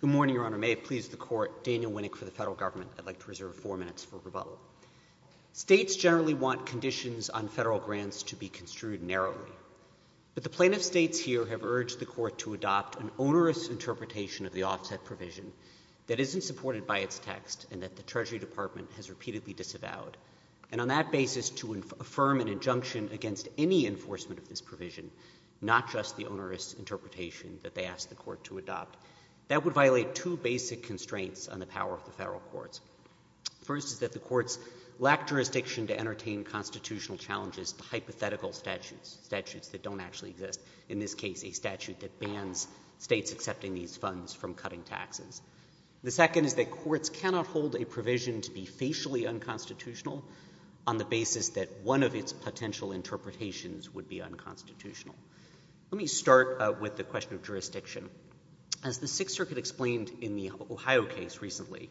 Good morning, Your Honor. May it please the Court, Daniel Winnick for the Federal Government. I'd like to reserve four minutes for rebuttal. States generally want conditions on federal grants to be construed narrowly, but the plaintiff states here have urged the Court to adopt an onerous interpretation of the offset provision that isn't supported by its text and that the Treasury Department has repeatedly disavowed, and on that basis to affirm an injunction against any enforcement of this provision, not just the onerous interpretation that they have asked the Court to adopt. That would violate two basic constraints on the power of the federal courts. First is that the courts lack jurisdiction to entertain constitutional challenges to hypothetical statutes, statutes that don't actually exist, in this case a statute that bans states accepting these funds from cutting taxes. The second is that courts cannot hold a provision to be facially unconstitutional on the basis that one of its potential interpretations would be unconstitutional. Let me start with the question of jurisdiction. As the Sixth Circuit explained in the Ohio case recently,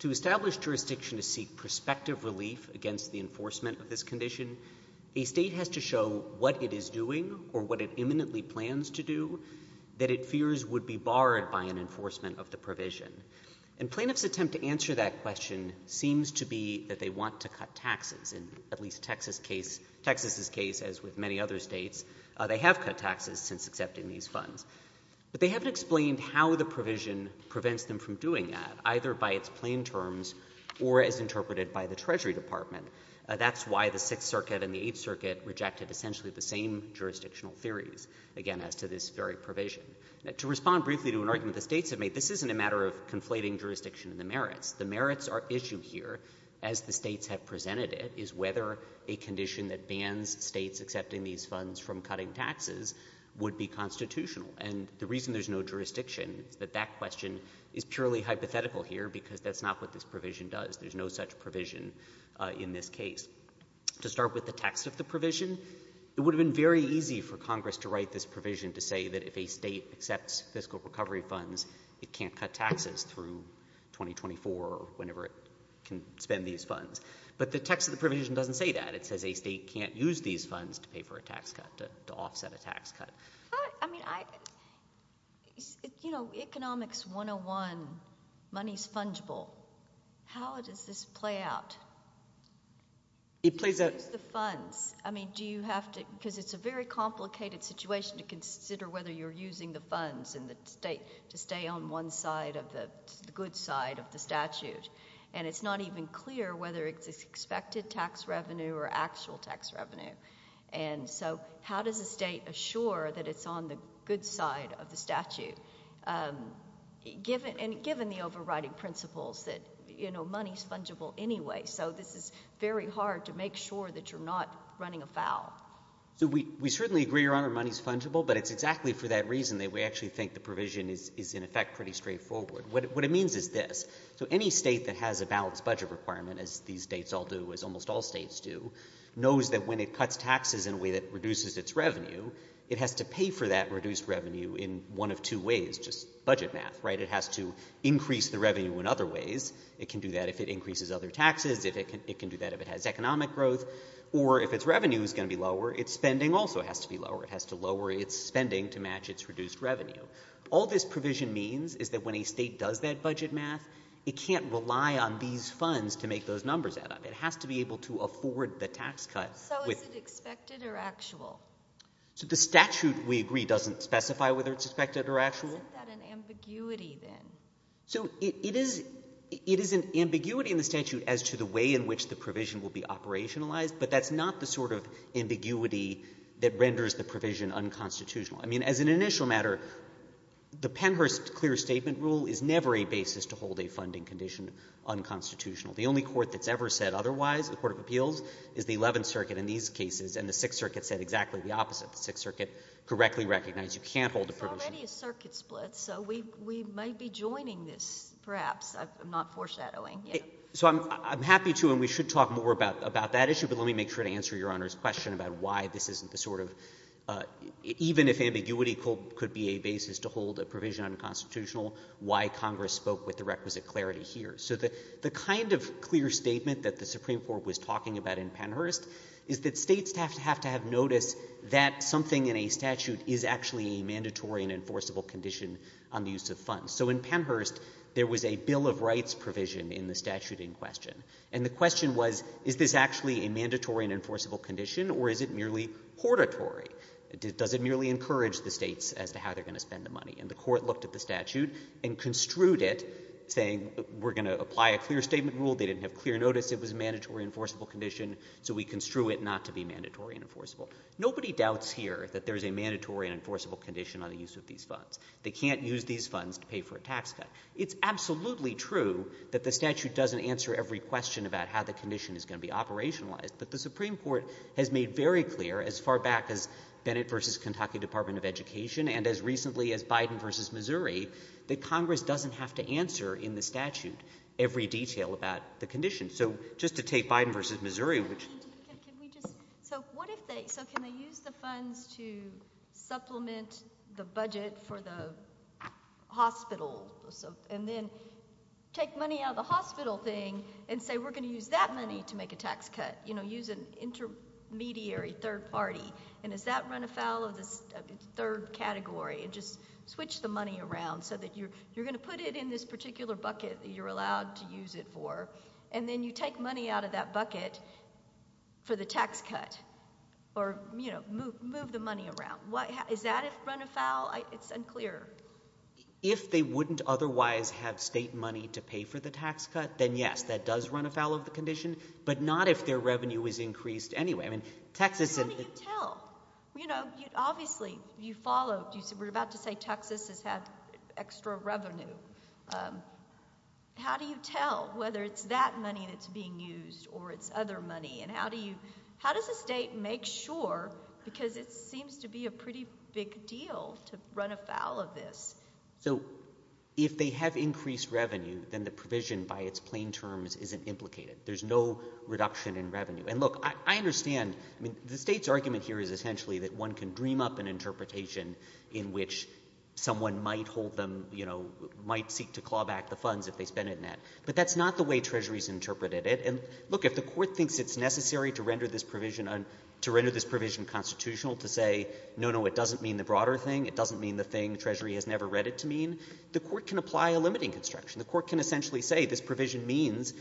to establish jurisdiction to seek prospective relief against the enforcement of this condition, a state has to show what it is doing or what it imminently plans to do that it fears would be barred by an enforcement of the provision. And plaintiff's attempt to answer that question seems to be that they want to cut taxes, in at least Texas' case, as with many other states, they have cut taxes since accepting these funds. But they haven't explained how the provision prevents them from doing that, either by its plain terms or as interpreted by the Treasury Department. That's why the Sixth Circuit and the Eighth Circuit rejected essentially the same jurisdictional theories, again, as to this very provision. To respond briefly to an argument the states have made, this isn't a matter of conflating jurisdiction and the merits. The merits at issue here, as the states have presented it, is whether a condition that bans states accepting these funds from cutting taxes would be constitutional. And the reason there's no jurisdiction is that that question is purely hypothetical here, because that's not what this provision does. There's no such provision in this case. To start with the text of the provision, it would have been very easy for Congress to write this provision to say that if a state could spend these funds. But the text of the provision doesn't say that. It says a state can't use these funds to pay for a tax cut, to offset a tax cut. I mean, I, you know, Economics 101, money's fungible. How does this play out? It plays out... Use the funds. I mean, do you have to, because it's a very complicated situation to consider whether you're using the funds in the state to stay on one side of the, the good side of the statute? And it's not even clear whether it's expected tax revenue or actual tax revenue. And so how does a state assure that it's on the good side of the statute, and given the overriding principles that, you know, money's fungible anyway? So this is very hard to make sure that you're not running afoul. So we certainly agree, Your Honor, money's fungible, but it's exactly for that reason that we actually think the provision is in effect pretty straightforward. What it means is this. So any state that has a balanced budget requirement, as these states all do, as almost all states do, knows that when it cuts taxes in a way that reduces its revenue, it has to pay for that reduced revenue in one of two ways, just budget math, right? It has to increase the revenue in other ways. It can do that if it increases other taxes, it can do that if it has economic growth, or if its revenue is going to be lower, its spending also has to be lower. It has to lower its spending to match its reduced revenue. All this provision means is that when a state does that budget math, it can't rely on these funds to make those numbers add up. It has to be able to afford the tax cut. So is it expected or actual? So the statute, we agree, doesn't specify whether it's expected or actual. Isn't that an ambiguity then? So it is an ambiguity in the statute as to the way in which the provision will be operationalized, but that's not the sort of ambiguity that renders the provision unconstitutional. I mean, as an initial matter, the Pennhurst clear statement rule is never a basis to hold a funding condition unconstitutional. The only court that's ever said otherwise, the Court of Appeals, is the Eleventh Circuit in these cases, and the Sixth Circuit said exactly the opposite. The Sixth Circuit correctly recognized you can't hold a provision— It's already a circuit split, so we might be joining this, perhaps. I'm not foreshadowing. Yeah. So I'm happy to, and we should talk more about that issue, but let me make sure to answer Your The ambiguity could be a basis to hold a provision unconstitutional, why Congress spoke with the requisite clarity here. So the kind of clear statement that the Supreme Court was talking about in Pennhurst is that states have to have notice that something in a statute is actually a mandatory and enforceable condition on the use of funds. So in Pennhurst, there was a Bill of Rights provision in the statute in question, and the question was, is this actually a mandatory and enforceable condition, or is it merely hortatory? Does it merely encourage the states as to how they're going to spend the money? And the court looked at the statute and construed it, saying, we're going to apply a clear statement rule. They didn't have clear notice it was a mandatory and enforceable condition, so we construe it not to be mandatory and enforceable. Nobody doubts here that there's a mandatory and enforceable condition on the use of these funds. They can't use these funds to pay for a tax cut. It's absolutely true that the statute doesn't answer every question about how the condition is going to be operationalized, but the Supreme Court has made very clear, as far back as Bennett v. Kentucky Department of Education and as recently as Biden v. Missouri, that Congress doesn't have to answer in the statute every detail about the condition. So just to take Biden v. Missouri, which... So what if they... So can they use the funds to supplement the budget for the hospital, and then take money out of the hospital thing and say, we're going to use that money to make a tax cut, you know, use an intermediary third party, and does that run afoul of the third category, and just switch the money around so that you're going to put it in this particular bucket that you're allowed to use it for, and then you take money out of that bucket for the tax cut, or, you know, move the money around. Is that run afoul? It's unclear. If they wouldn't otherwise have state money to pay for the tax cut, then yes, that does run afoul of the condition, but not if their revenue is increased anyway. I mean, Texas... How do you tell? You know, obviously, you follow... We're about to say Texas has had extra revenue. How do you tell whether it's that money that's being used or it's other money, and how do you... How does the state make sure, because it seems to be a pretty big deal, to run afoul of this? So if they have increased revenue, then the provision by its plain terms isn't implicated. There's no reduction in revenue. And look, I understand... I mean, the state's argument here is essentially that one can dream up an interpretation in which someone might hold them, you know, might seek to claw back the funds if they spend it in that, but that's not the way Treasury's interpreted it. And look, if the Court thinks it's necessary to render this provision constitutional to say, no, no, it doesn't mean the broader thing, it doesn't mean the thing Treasury has never read it to mean, the Court can apply a limiting construction. The Court can essentially say this provision means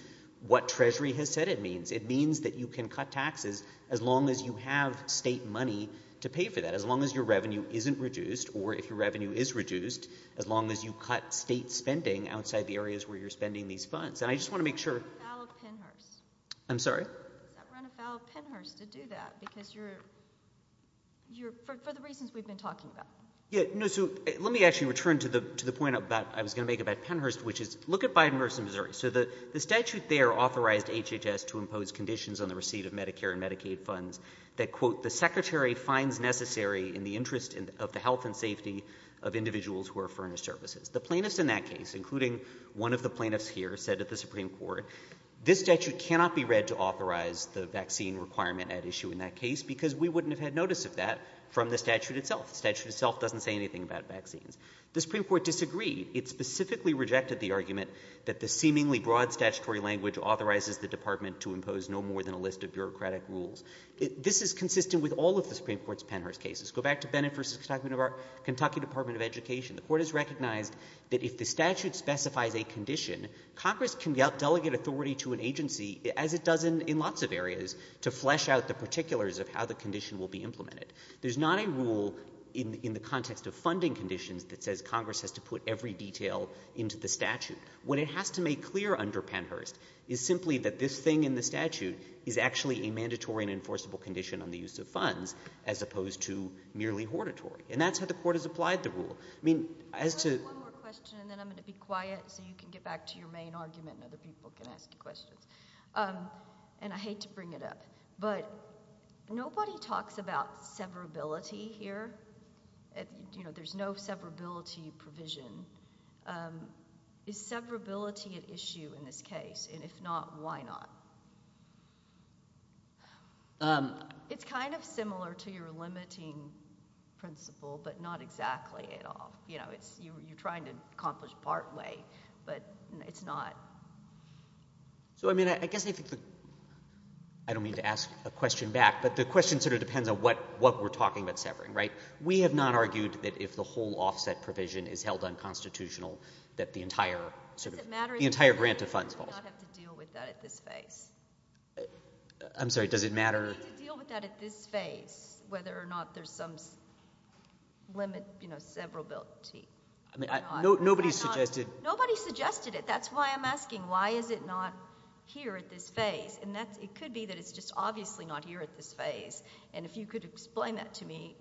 what Treasury has said it means. It means that you can cut taxes as long as you have state money to pay for that, as long as your revenue isn't reduced, or if your revenue is reduced, as long as you cut state spending outside the areas where you're spending these funds. And I just want to make sure... Run afoul of Pennhurst. I'm sorry? Run afoul of Pennhurst to do that, because you're... For the reasons we've been talking about. Yeah, no, so let me actually turn to the point I was going to make about Pennhurst, which is, look at Biden vs. Missouri. So the statute there authorized HHS to impose conditions on the receipt of Medicare and Medicaid funds that, quote, the Secretary finds necessary in the interest of the health and safety of individuals who are furnished services. The plaintiffs in that case, including one of the plaintiffs here, said at the Supreme Court, this statute cannot be read to authorize the vaccine requirement at issue in that case, because we wouldn't have had notice of that from the statute itself. The statute itself doesn't say anything about vaccines. The Supreme Court disagreed. It specifically rejected the argument that the seemingly broad statutory language authorizes the Department to impose no more than a list of bureaucratic rules. This is consistent with all of the Supreme Court's Pennhurst cases. Go back to Bennett vs. Kentucky Department of Education. The Court has recognized that if the statute specifies a condition, Congress can delegate authority to an agency, as it does in lots of areas, to flesh out the particulars of how the in the context of funding conditions that says Congress has to put every detail into the statute. What it has to make clear under Pennhurst is simply that this thing in the statute is actually a mandatory and enforceable condition on the use of funds, as opposed to merely hortatory. And that's how the Court has applied the rule. I mean, as to... I have one more question, and then I'm going to be quiet so you can get back to your main argument and other people can ask questions. And I hate to bring it up, but nobody talks about severability here. There's no severability provision. Is severability an issue in this case? And if not, why not? It's kind of similar to your limiting principle, but not exactly at all. You're trying to accomplish partway, but it's not. So, I mean, I guess... I don't mean to ask a question back, but the question sort of depends on what we're talking about severing, right? We have not argued that if the whole offset provision is held unconstitutional, that the entire grant of funds falls. Does it matter that we do not have to deal with that at this phase? I'm sorry, does it matter... Do we have to deal with that at this phase, whether or not there's some limit, you know, severability? I mean, nobody suggested... Nobody suggested it. That's why I'm asking, why is it not here at this phase? And it could be that it's just obviously not here at this phase. And if you could explain that to me,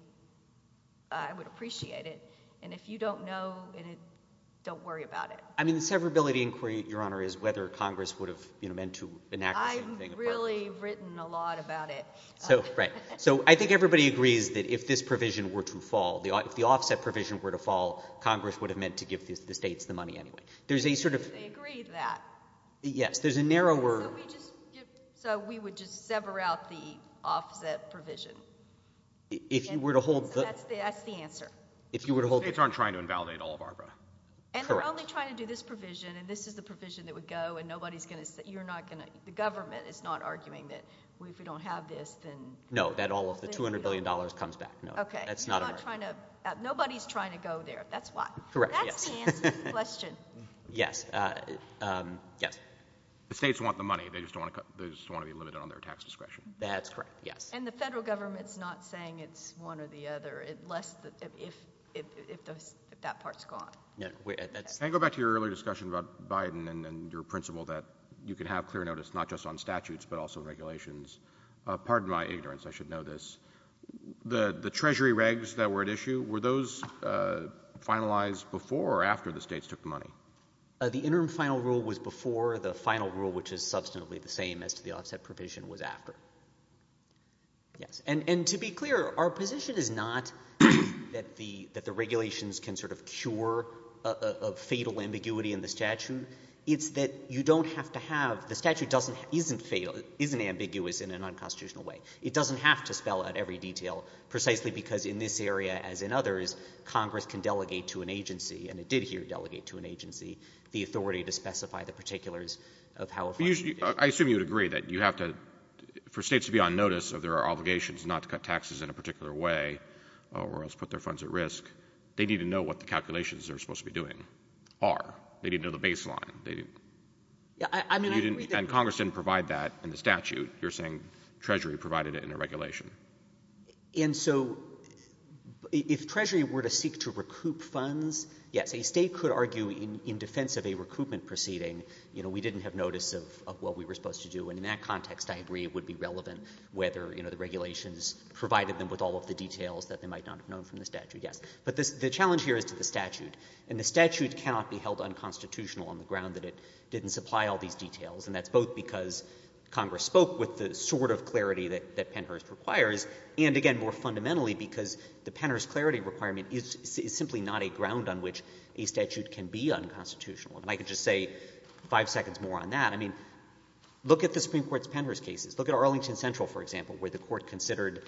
I would appreciate it. And if you don't know, don't worry about it. I mean, the severability inquiry, Your Honor, is whether Congress would have, you know, meant to enact... I've really written a lot about it. So, right. So, I think everybody agrees that if this provision were to fall, if the offset provision were to fall, Congress would have meant to give the states the money anyway. There's a sort of... They agreed that. Yes, there's a narrower... So, we would just sever out the offset provision. If you were to hold... That's the answer. If you were to hold... The states aren't trying to invalidate all of ARPA. And they're only trying to do this provision, and this is the provision that would go, and nobody's going to... You're not going to... The government is not arguing that we, if we don't have this, then... No, that all of the $200 billion comes back. No, that's not American. Okay. You're not trying to... Nobody's trying to go there, that's why. Correct, yes. Question. Yes. Yes. The states want the money, they just don't want to be limited on their tax discretion. That's correct, yes. And the federal government's not saying it's one or the other, unless... If that part's gone. Can I go back to your earlier discussion about Biden and your principle that you can have clear notice, not just on statutes, but also regulations? Pardon my ignorance, I should know this. The treasury regs that were at issue, were those finalized before or after the states took the money? The interim final rule was before, the final rule, which is substantively the same as to the offset provision, was after. Yes. And to be clear, our position is not that the regulations can sort of cure a fatal ambiguity in the statute. It's that you don't have to have... The statute doesn't... Isn't ambiguous in an unconstitutional way. It doesn't have to spell out every detail, precisely because in this area, as in others, Congress can delegate to an agency, and it did here delegate to an agency, the authority to specify the particulars of how... I assume you would agree that you have to... For states to be on notice of their obligations not to cut taxes in a particular way, or else put their funds at risk, they need to know what the calculations they're supposed to be doing are. They need to know the baseline. Yeah, I mean... And Congress didn't provide that in the statute. You're saying treasury provided it in a regulation. And so if treasury were to seek to recoup funds, yes, a state could argue in defense of a recoupment proceeding, you know, we didn't have notice of what we were supposed to do. And in that context, I agree it would be relevant whether, you know, the regulations provided them with all of the details that they might not have known from the statute. Yes. But the challenge here is to the statute, and the statute cannot be held unconstitutional on the ground that it didn't supply all these details. And that's both because Congress spoke with the sort of clarity that Pennhurst requires, and again, more fundamentally, because the Pennhurst clarity requirement is simply not a ground on which a statute can be unconstitutional. And I could just say five seconds more on that. I mean, look at the Supreme Court's Pennhurst cases. Look at Arlington Central, for example, where the court considered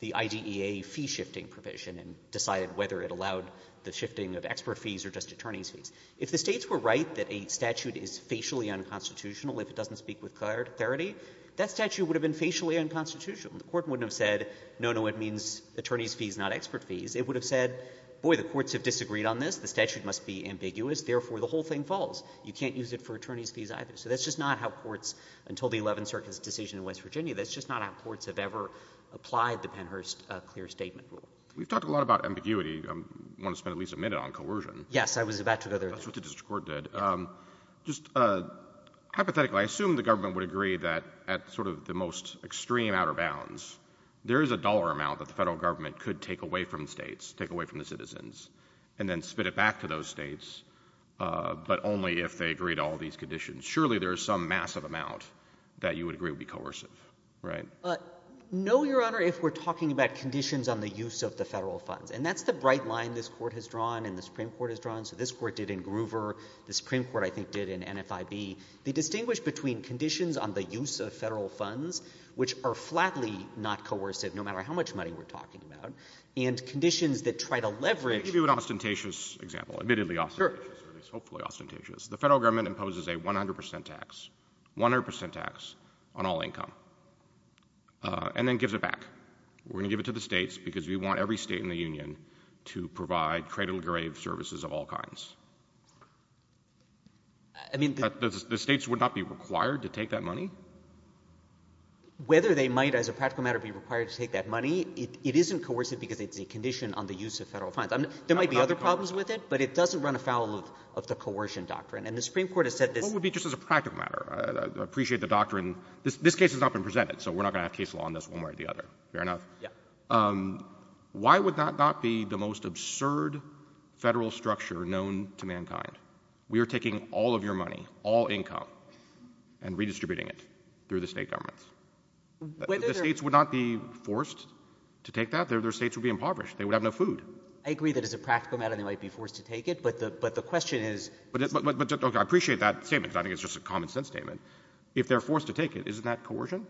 the IDEA fee-shifting provision and decided whether it allowed the expert fees or just attorney's fees. If the states were right that a statute is facially unconstitutional if it doesn't speak with clarity, that statute would have been facially unconstitutional. The court wouldn't have said, no, no, it means attorney's fees, not expert fees. It would have said, boy, the courts have disagreed on this, the statute must be ambiguous, therefore the whole thing falls. You can't use it for attorney's fees either. So that's just not how courts, until the Eleventh Circuit's decision in West Virginia, that's just not how courts have ever applied the Pennhurst clear statement rule. We've talked a lot about ambiguity. I want to spend at least a minute on coercion. Yes, I was about to go there. That's what the district court did. Just hypothetically, I assume the government would agree that at sort of the most extreme outer bounds, there is a dollar amount that the Federal Government could take away from the states, take away from the citizens, and then spit it back to those states, but only if they agree to all these conditions. Surely there is some massive amount that you would agree would be coercive, right? No, Your Honor, if we're talking about conditions on the use of the Federal funds. And that's the bright line this Court has drawn and the Supreme Court has drawn. So this Court did in Groover. The Supreme Court, I think, did in NFIB. They distinguish between conditions on the use of Federal funds, which are flatly not coercive, no matter how much money we're talking about, and conditions that try to leverage Let me give you an ostentatious example, admittedly ostentatious, at least hopefully ostentatious. The Federal Government imposes a 100 percent tax, 100 percent tax on all income, and then gives it back. We're going to give it to the states because we want every state in the Union to provide cradle-grave services of all kinds. I mean, the states would not be required to take that money? Whether they might, as a practical matter, be required to take that money, it isn't coercive because it's a condition on the use of Federal funds. There might be other problems with it, but it doesn't run afoul of the coercion doctrine. And the Supreme Court has said this Just as a practical matter, I appreciate the doctrine. This case has not been presented, so we're not going to have case law on this one way or the other. Fair enough. Why would that not be the most absurd Federal structure known to mankind? We are taking all of your money, all income, and redistributing it through the state governments. The states would not be forced to take that? Their states would be impoverished. They would have no food. I agree that as a practical matter they might be forced to take it, but the question is I appreciate that statement because I think it's just a common sense statement. If they're forced to take it, isn't that coercion?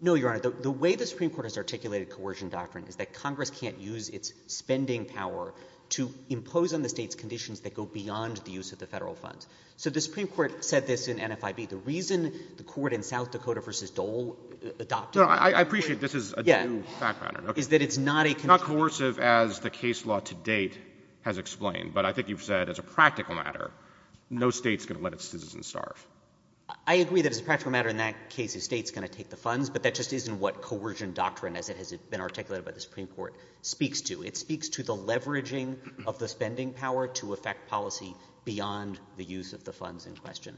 No, Your Honor. The way the Supreme Court has articulated coercion doctrine is that Congress can't use its spending power to impose on the states conditions that go beyond the use of the Federal funds. So the Supreme Court said this in NFIB. The reason the Court in South Dakota v. Dole adopted it I appreciate this is a due fact matter. Yeah. Is that it's not a It's not coercive as the case law to date has explained, but I think you've said as a practical matter no state's going to let its citizens starve. I agree that as a practical matter in that case a state's going to take the funds, but that just isn't what coercion doctrine as it has been articulated by the Supreme Court speaks to. It speaks to the leveraging of the spending power to affect policy beyond the use of the funds in question.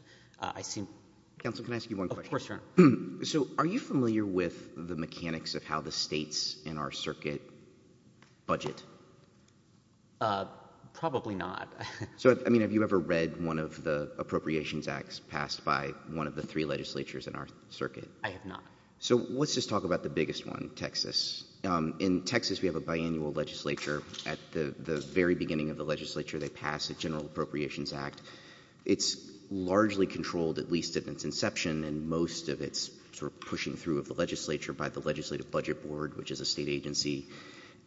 Counsel, can I ask you one question? Of course, Your Honor. So are you familiar with the mechanics of how the states in our circuit budget? Probably not. So, I mean, have you ever read one of the Appropriations Acts passed by one of the three legislatures in our circuit? I have not. So let's just talk about the biggest one, Texas. In Texas we have a biannual legislature. At the very beginning of the legislature they pass a General Appropriations Act. It's largely controlled at least at its inception and most of it's sort of pushing through of the legislature by the Legislative Budget Board, which is a state agency.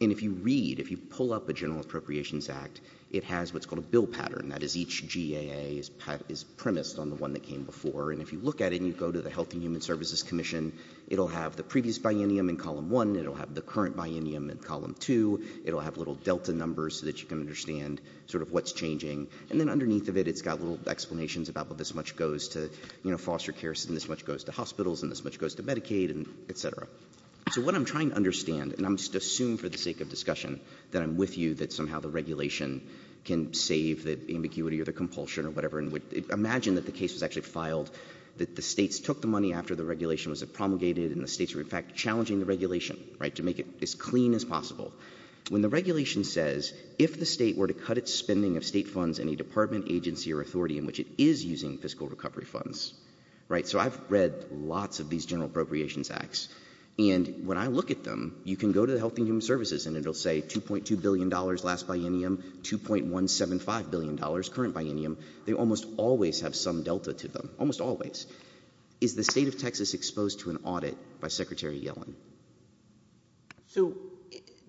And if you read, if you pull up a General Appropriations Act, it has what's called a bill pattern, that is each GAA is premised on the one that came before. And if you look at it and you go to the Health and Human Services Commission, it'll have the previous biennium in column one. It'll have the current biennium in column two. It'll have little delta numbers so that you can understand sort of what's changing. And then underneath of it, it's got little explanations about what this much goes to, you know, foster care and this much goes to hospitals and this much goes to Medicaid and et cetera. So what I'm trying to understand, and I'm just assuming for the sake of discussion that I'm with you that somehow the regulation can save the ambiguity or the compulsion or whatever, imagine that the case was actually filed, that the states took the money after the regulation was promulgated and the states were in fact challenging the regulation, right, to make it as clean as possible. When the regulation says if the state were to cut its spending of state funds in a department, agency or authority in which it is using fiscal recovery funds, right, so I've read lots of these General Appropriations Acts, and when I look at them, you can go to the Health and Human Services and it'll say $2.2 billion last biennium, $2.175 billion current biennium. They almost always have some delta to them, almost always. Is the state of Texas exposed to an audit by Secretary Yellen? So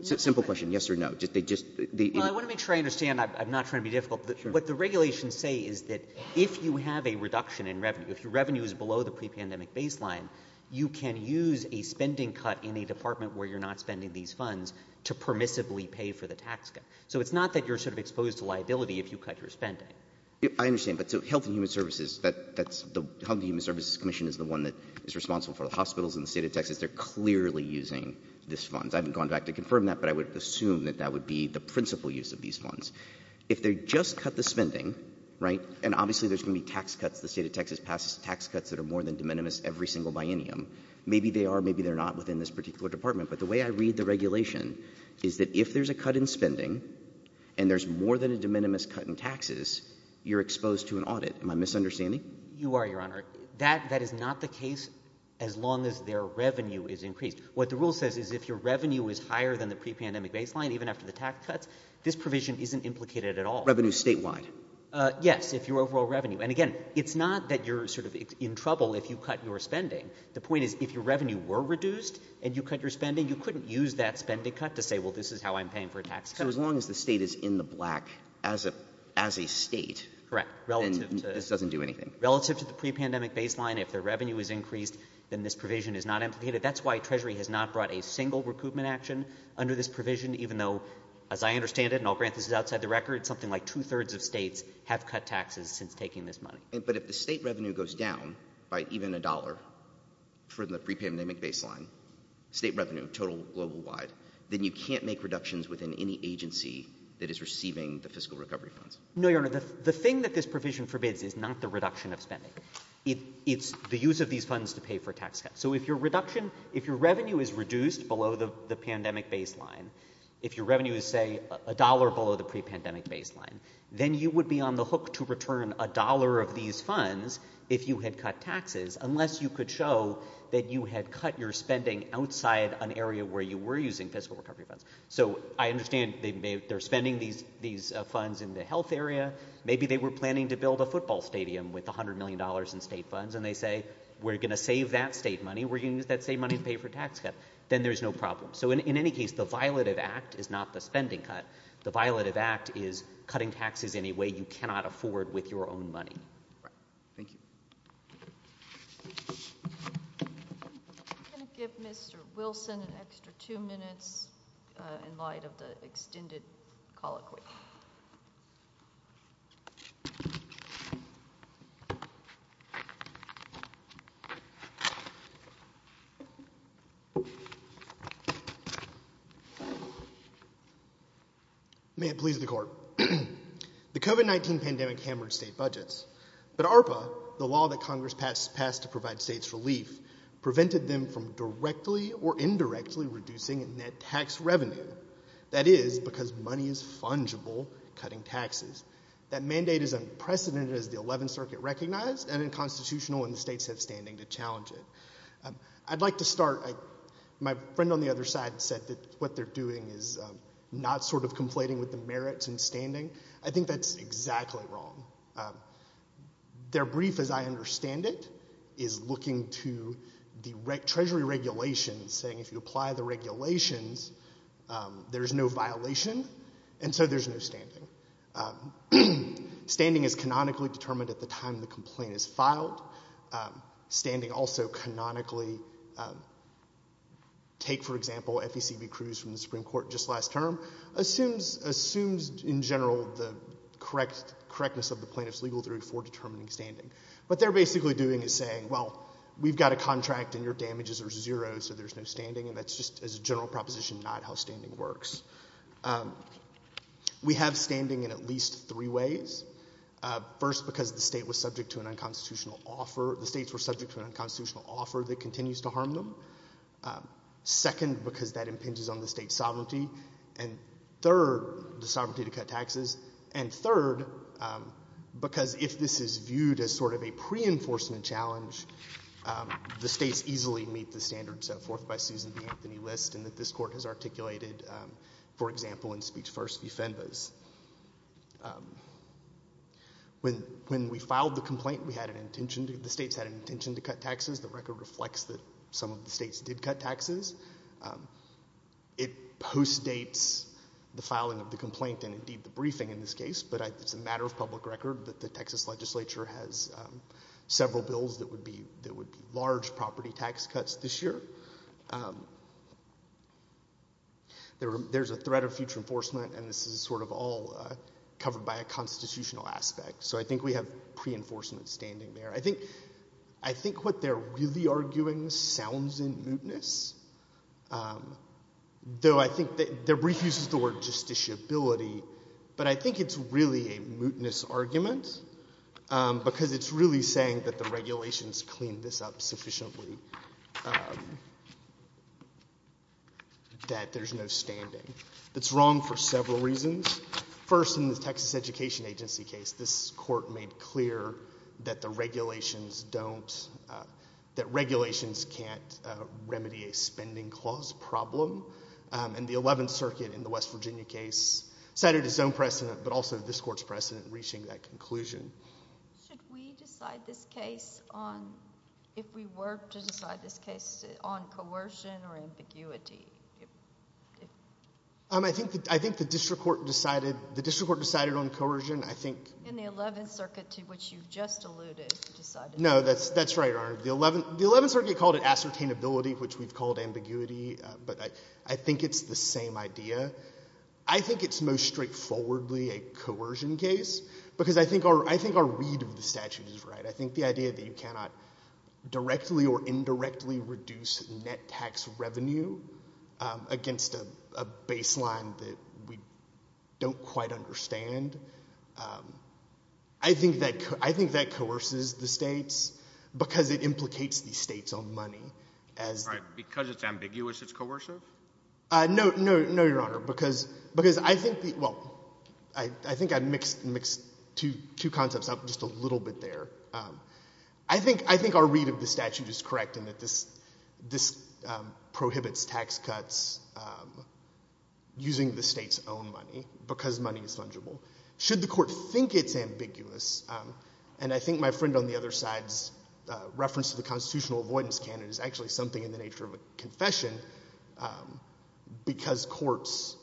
simple question, yes or no. I want to make sure I understand. I'm not trying to be difficult. What the regulations say is that if you have a reduction in revenue, if your revenue is below the pre-pandemic baseline, you can use a spending cut in a department where you're not spending these funds to permissibly pay for the tax cut. So it's not that you're sort of exposed to liability if you cut your spending. I understand, but so Health and Human Services, that's, the Health and Human Services Commission is the one that is responsible for the hospitals in the state of Texas. They're clearly using these funds. I haven't gone back to confirm that, but I would assume that that would be the principal use of these funds. If they just cut the spending, right, and obviously there's going to be tax cuts. The state of Texas passes tax cuts that are more than de minimis every single biennium. Maybe they are, maybe they're not within this particular department. But the way I read the regulation is that if there's a cut in spending and there's more than a de minimis cut in taxes, you're exposed to an audit. Am I misunderstanding? You are, Your Honor. That is not the case as long as their revenue is increased. What the rule says is if your revenue is higher than the pre-pandemic baseline, even after the tax cuts, this provision isn't implicated at all. Revenue statewide? Yes, if your overall revenue. And again, it's not that you're sort of in trouble if you cut your spending. The point is, if your revenue were reduced and you cut your spending, you couldn't use that spending cut to say, well, this is how I'm paying for a tax cut. So as long as the state is in the black as a as a state. Correct. Relative to this doesn't do anything relative to the pre-pandemic baseline. If their revenue is increased, then this provision is not implicated. That's why Treasury has not brought a single recoupment action under this provision, even though, as I understand it, and I'll grant this is outside the record, something like two thirds of states have cut taxes since taking this money. But if the state revenue goes down by even a dollar for the pre-pandemic baseline, state revenue total global wide, then you can't make reductions within any agency that is receiving the fiscal recovery funds. No, Your Honor, the thing that this provision forbids is not the reduction of spending. It's the use of these funds to pay for tax cuts. So if your reduction, if your revenue is reduced below the pandemic baseline, if your revenue is, say, a dollar below the pre-pandemic baseline, then you would be on the hook to return a dollar of these funds if you had cut taxes, unless you could show that you had cut your spending outside an area where you were using fiscal recovery funds. So I understand they're spending these these funds in the health area. Maybe they were planning to build a football stadium with one hundred million dollars in state funds, and they say we're going to save that state money. We're going to use that same money to pay for tax cut. Then there's no problem. In any case, the violative act is not the spending cut. The violative act is cutting taxes in a way you cannot afford with your own money. Thank you. I'm going to give Mr. Wilson an extra two minutes in light of the extended colloquy. May it please the court. The COVID-19 pandemic hammered state budgets, but ARPA, the law that Congress passed to provide states relief, prevented them from directly or indirectly reducing net tax revenue. That is because money is fungible cutting taxes. That mandate is unprecedented as the 11th Circuit recognized and unconstitutional and the states have standing to challenge it. I'd like to start, my friend on the other side said that what they're doing is not sort of conflating with the merits and standing. I think that's exactly wrong. Their brief, as I understand it, is looking to the Treasury regulations saying if you apply the regulations, there's no violation and so there's no standing. Standing is canonically determined at the time the complaint is filed. Standing also canonically, take for example FECB Cruz from the Supreme Court just last term, assumes in general the correctness of the plaintiff's legal duty for determining standing. What they're basically doing is saying, well, we've got a contract and your damages are zero so there's no standing and that's just as a general proposition not how standing works. We have standing in at least three ways. First, because the state was subject to an unconstitutional offer, the states were subject to an unconstitutional offer that continues to harm them. Second, because that impinges on the state's sovereignty. And third, the sovereignty to cut taxes. And third, because if this is viewed as sort of a pre-enforcement challenge, the states easily meet the standards set forth by Susan B. Anthony List and that this Court has articulated for example in speech first v. Fenves. When we filed the complaint, the states had an intention to cut taxes. The record reflects that some of the states did cut taxes. It postdates the filing of the complaint and indeed the briefing in this case, but it's a matter of public record that the Texas legislature has several bills that would be large property tax cuts this year. There's a threat of future enforcement and this is sort of all covered by a constitution aspect. So I think we have pre-enforcement standing there. I think what they're really arguing sounds in mootness, though I think the brief uses the word justiciability, but I think it's really a mootness argument because it's really saying that the regulations cleaned this up sufficiently, that there's no standing. It's wrong for several reasons. First, in the Texas Education Agency case, this Court made clear that the regulations don't, that regulations can't remedy a spending clause problem. And the 11th Circuit in the West Virginia case cited its own precedent, but also this Court's precedent reaching that conclusion. Should we decide this case on, if we were to decide this case, on coercion or ambiguity? I think the district court decided on coercion. And the 11th Circuit, to which you've just alluded, decided on coercion. No, that's right, Your Honor. The 11th Circuit called it ascertainability, which we've called ambiguity, but I think it's the same idea. I think it's most straightforwardly a coercion case because I think our read of the statute is right. I think the idea that you cannot directly or indirectly reduce net tax revenue, which against a baseline that we don't quite understand, I think that, I think that coerces the states because it implicates the states on money. All right, because it's ambiguous, it's coercive? No, no, no, Your Honor, because, because I think the, well, I think I mixed two concepts up just a little bit there. I think, I think our read of the statute is correct in that this, this prohibits tax cuts using the state's own money because money is fungible. Should the court think it's ambiguous? And I think my friend on the other side's reference to the constitutional avoidance canon is actually something in the nature of a confession because courts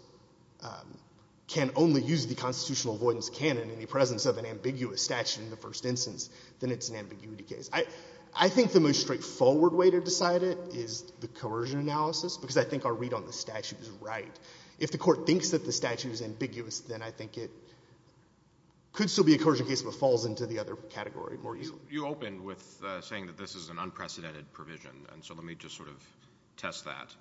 can only use the constitutional avoidance canon in the presence of an ambiguous statute in the first instance. Then it's an ambiguity case. I, I think the most straightforward way to decide it is the coercion analysis because I think our read on the statute is right. If the court thinks that the statute is ambiguous, then I think it could still be a coercion case if it falls into the other category more easily. You opened with saying that this is an unprecedented provision, and so let me just sort of test that.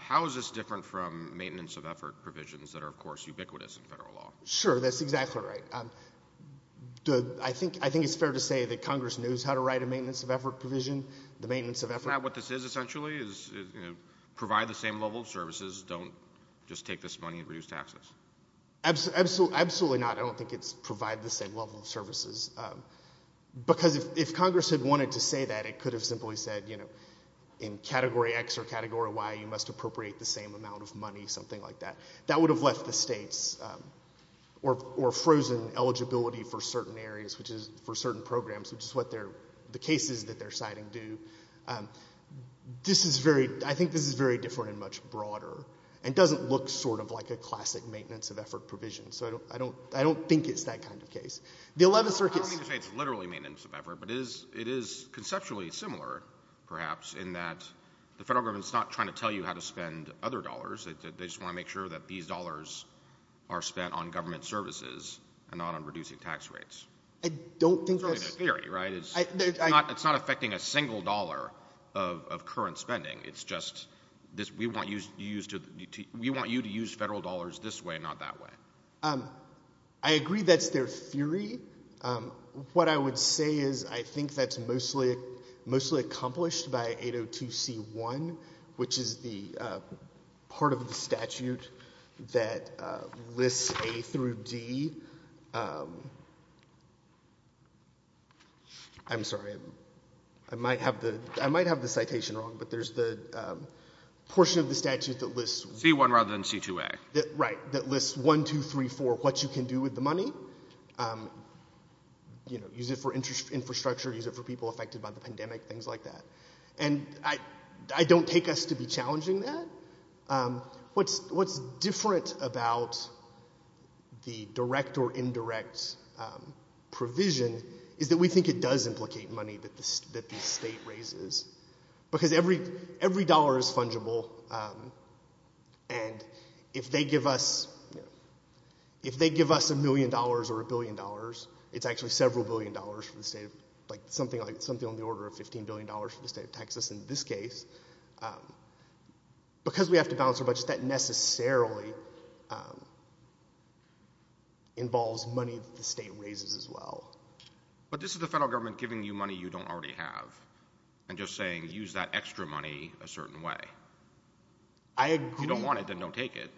How is this different from maintenance of effort provisions that are, of course, ubiquitous in federal law? Sure, that's exactly right. Um, the, I think, I think it's fair to say that Congress knows how to write a maintenance of effort provision. The maintenance of effort. Isn't that what this is essentially? Is, is, you know, provide the same level of services. Don't just take this money and reduce taxes. Absolutely, absolutely not. I don't think it's provide the same level of services, um, because if, if Congress had wanted to say that, it could have simply said, you know, in category X or category Y, you must appropriate the same amount of money, something like that. That would have left the states, um, or, or frozen eligibility for certain areas, which is for certain programs, which is what they're, the cases that they're citing do. Um, this is very, I think this is very different and much broader and doesn't look sort of like a classic maintenance of effort provision. So I don't, I don't, I don't think it's that kind of case. The 11th Circuit. I don't mean to say it's literally maintenance of effort, but it is, it is conceptually similar perhaps in that the federal government's not trying to tell you how to spend other dollars. They just want to make sure that these dollars are spent on government services and not on reducing tax rates. I don't think... It's really a theory, right? It's not, it's not affecting a single dollar of, of current spending. It's just this, we want you to use to, we want you to use federal dollars this way, not that way. Um, I agree that's their theory. Um, what I would say is I think that's mostly, mostly accomplished by 802C1, which is the, uh, part of the statute that, uh, lists A through D. Um, I'm sorry, I might have the, I might have the citation wrong, but there's the, um, portion of the statute that lists... C1 rather than C2A. Right. That lists one, two, three, four, what you can do with the money. Um, you know, use it for interest infrastructure, use it for people affected by the pandemic, things like that. And I, I don't take us to be challenging that. Um, what's, what's different about the direct or indirect, um, provision is that we think it does implicate money that the, that the state raises. Because every, every dollar is fungible, um, and if they give us, you know, if they give us a million dollars or a billion dollars, it's actually several billion dollars for the state of Texas. In this case, um, because we have to balance our budget, that necessarily, um, involves money that the state raises as well. But this is the federal government giving you money you don't already have and just saying, use that extra money a certain way. I agree. You don't want it, then don't take it.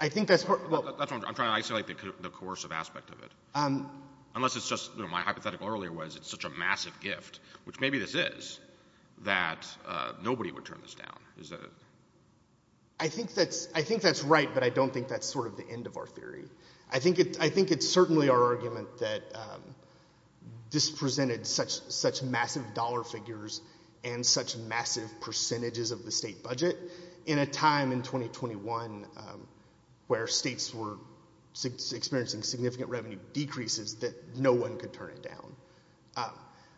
I think that's what... Well, that's what I'm trying to isolate the coercive aspect of it. Um. My hypothetical earlier was it's such a massive gift, which maybe this is, that, uh, nobody would turn this down. I think that's, I think that's right, but I don't think that's sort of the end of our theory. I think it, I think it's certainly our argument that, um, this presented such, such massive dollar figures and such massive percentages of the state budget in a time in 2021, um, where states were experiencing significant revenue decreases that no one could turn it down. Um,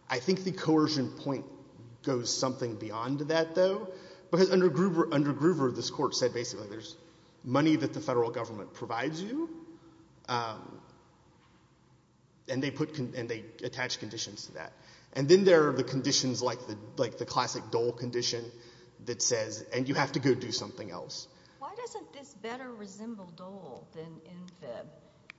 I think the coercion point goes something beyond that though, because under Gruber, under Gruber, this court said basically there's money that the federal government provides you, um, and they put, and they attach conditions to that. And then there are the conditions like the, like the classic Dole condition that says, and you have to go do something else. Why doesn't this better resemble Dole than INFIB?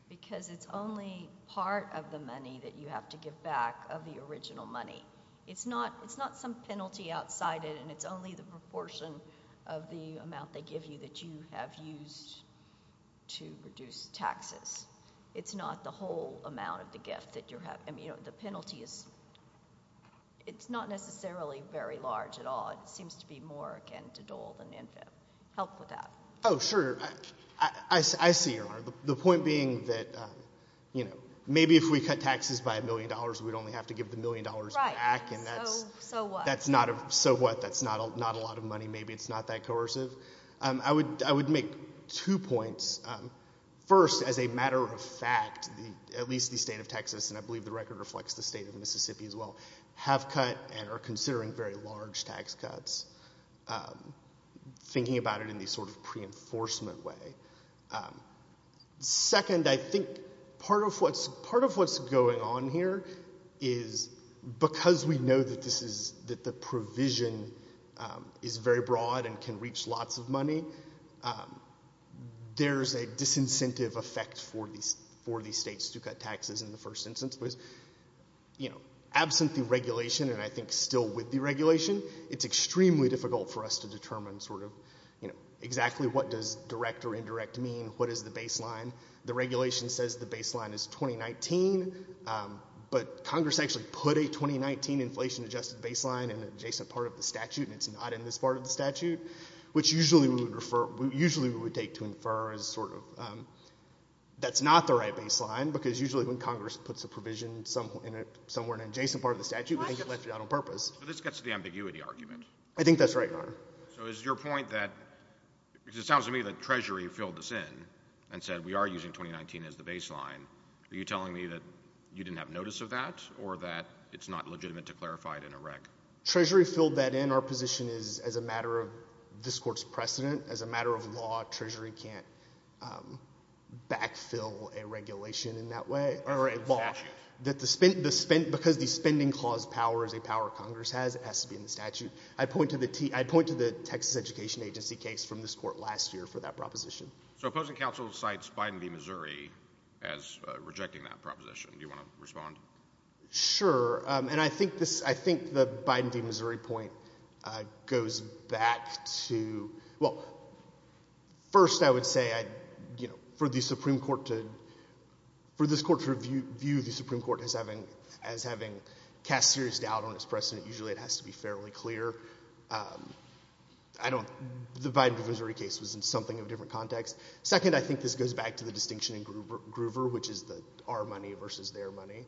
Because it's only part of the money that you have to give back of the original money. It's not, it's not some penalty outside it, and it's only the proportion of the amount they give you that you have used to reduce taxes. It's not the whole amount of the gift that you're having. You know, the penalty is, it's not necessarily very large at all. It seems to be more, again, to Dole than INFIB. Help with that. Oh, sure. I see your honor. The point being that, um, you know, maybe if we cut taxes by a million dollars, we'd only have to give the million dollars back. And that's, that's not a, so what? That's not a, not a lot of money. Maybe it's not that coercive. Um, I would, I would make two points. First, as a matter of fact, the, at least the state of Texas, and I believe the record reflects the state of Mississippi as well, have cut and are considering very large tax cuts, um, thinking about it in these sort of pre-enforcement way. Um, second, I think part of what's, part of what's going on here is because we know that this is, that the provision, um, is very broad and can reach lots of money, um, there's a disincentive effect for these, for these states to cut taxes in the first instance. You know, absent the regulation, and I think still with the regulation, it's extremely difficult for us to determine sort of, you know, exactly what does direct or indirect mean, what is the baseline. The regulation says the baseline is 2019, um, but Congress actually put a 2019 inflation adjusted baseline in an adjacent part of the statute, and it's not in this part of the statute, which usually we would refer, usually we would take to infer as sort of, um, that's not the right baseline, because usually when Congress puts a provision somewhere in an adjacent part of the statute, we think it left it out on purpose. So this gets to the ambiguity argument. I think that's right, Your Honor. So is your point that, because it sounds to me that Treasury filled this in, and said we are using 2019 as the baseline, are you telling me that you didn't have notice of that, or that it's not legitimate to clarify it in a rec? Treasury filled that in. Our position is as a matter of this court's precedent, as a matter of law, Treasury can't, um, backfill a regulation in that way, or a law, that the spend, because the spending clause powers a power Congress has, it has to be in the statute. I'd point to the Texas Education Agency case from this court last year for that proposition. So opposing counsel cites Biden v. Missouri as rejecting that proposition. Do you want to respond? Sure, um, and I think this, I think the Biden v. Missouri point, uh, goes back to, well, first, I would say, you know, for the Supreme Court to, for this court to view the Supreme Court as having, as having cast serious doubt on its precedent, usually it has to be fairly clear, um, I don't, the Biden v. Missouri case was in something of a different context. Second, I think this goes back to the distinction in Groover, which is our money versus their money,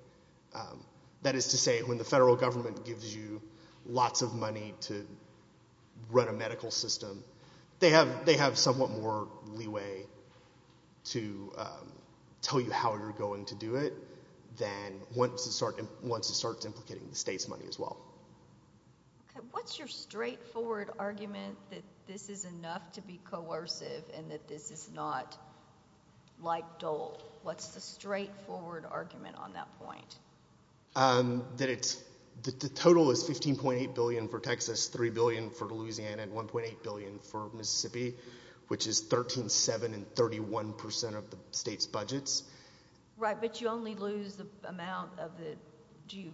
um, that is to say, when the federal government gives you lots of money to run a medical system, they have, they have somewhat more leeway to, um, tell you how you're going to do it than once it starts, once it starts implicating the state's money as well. Okay, what's your straightforward argument that this is enough to be coercive and that this is not like Dole? What's the straightforward argument on that point? Um, that it's, the total is $15.8 billion for Texas, $3 billion for Louisiana, and $1.8 billion for Mississippi, which is 13.7 and 31% of the state's budgets. Right, but you only lose the amount of the, do you,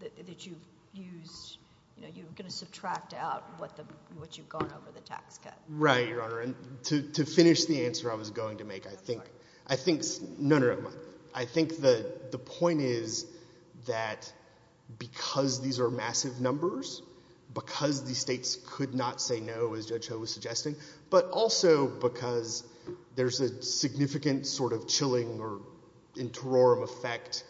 that you've used, you know, you're going to subtract out what the, what you've gone over the tax cut. Right, Your Honor, and to, to finish the answer I was going to make, I think, I think, no, I think the, the point is that because these are massive numbers, because the states could not say no, as Judge Ho was suggesting, but also because there's a significant sort of chilling or interim effect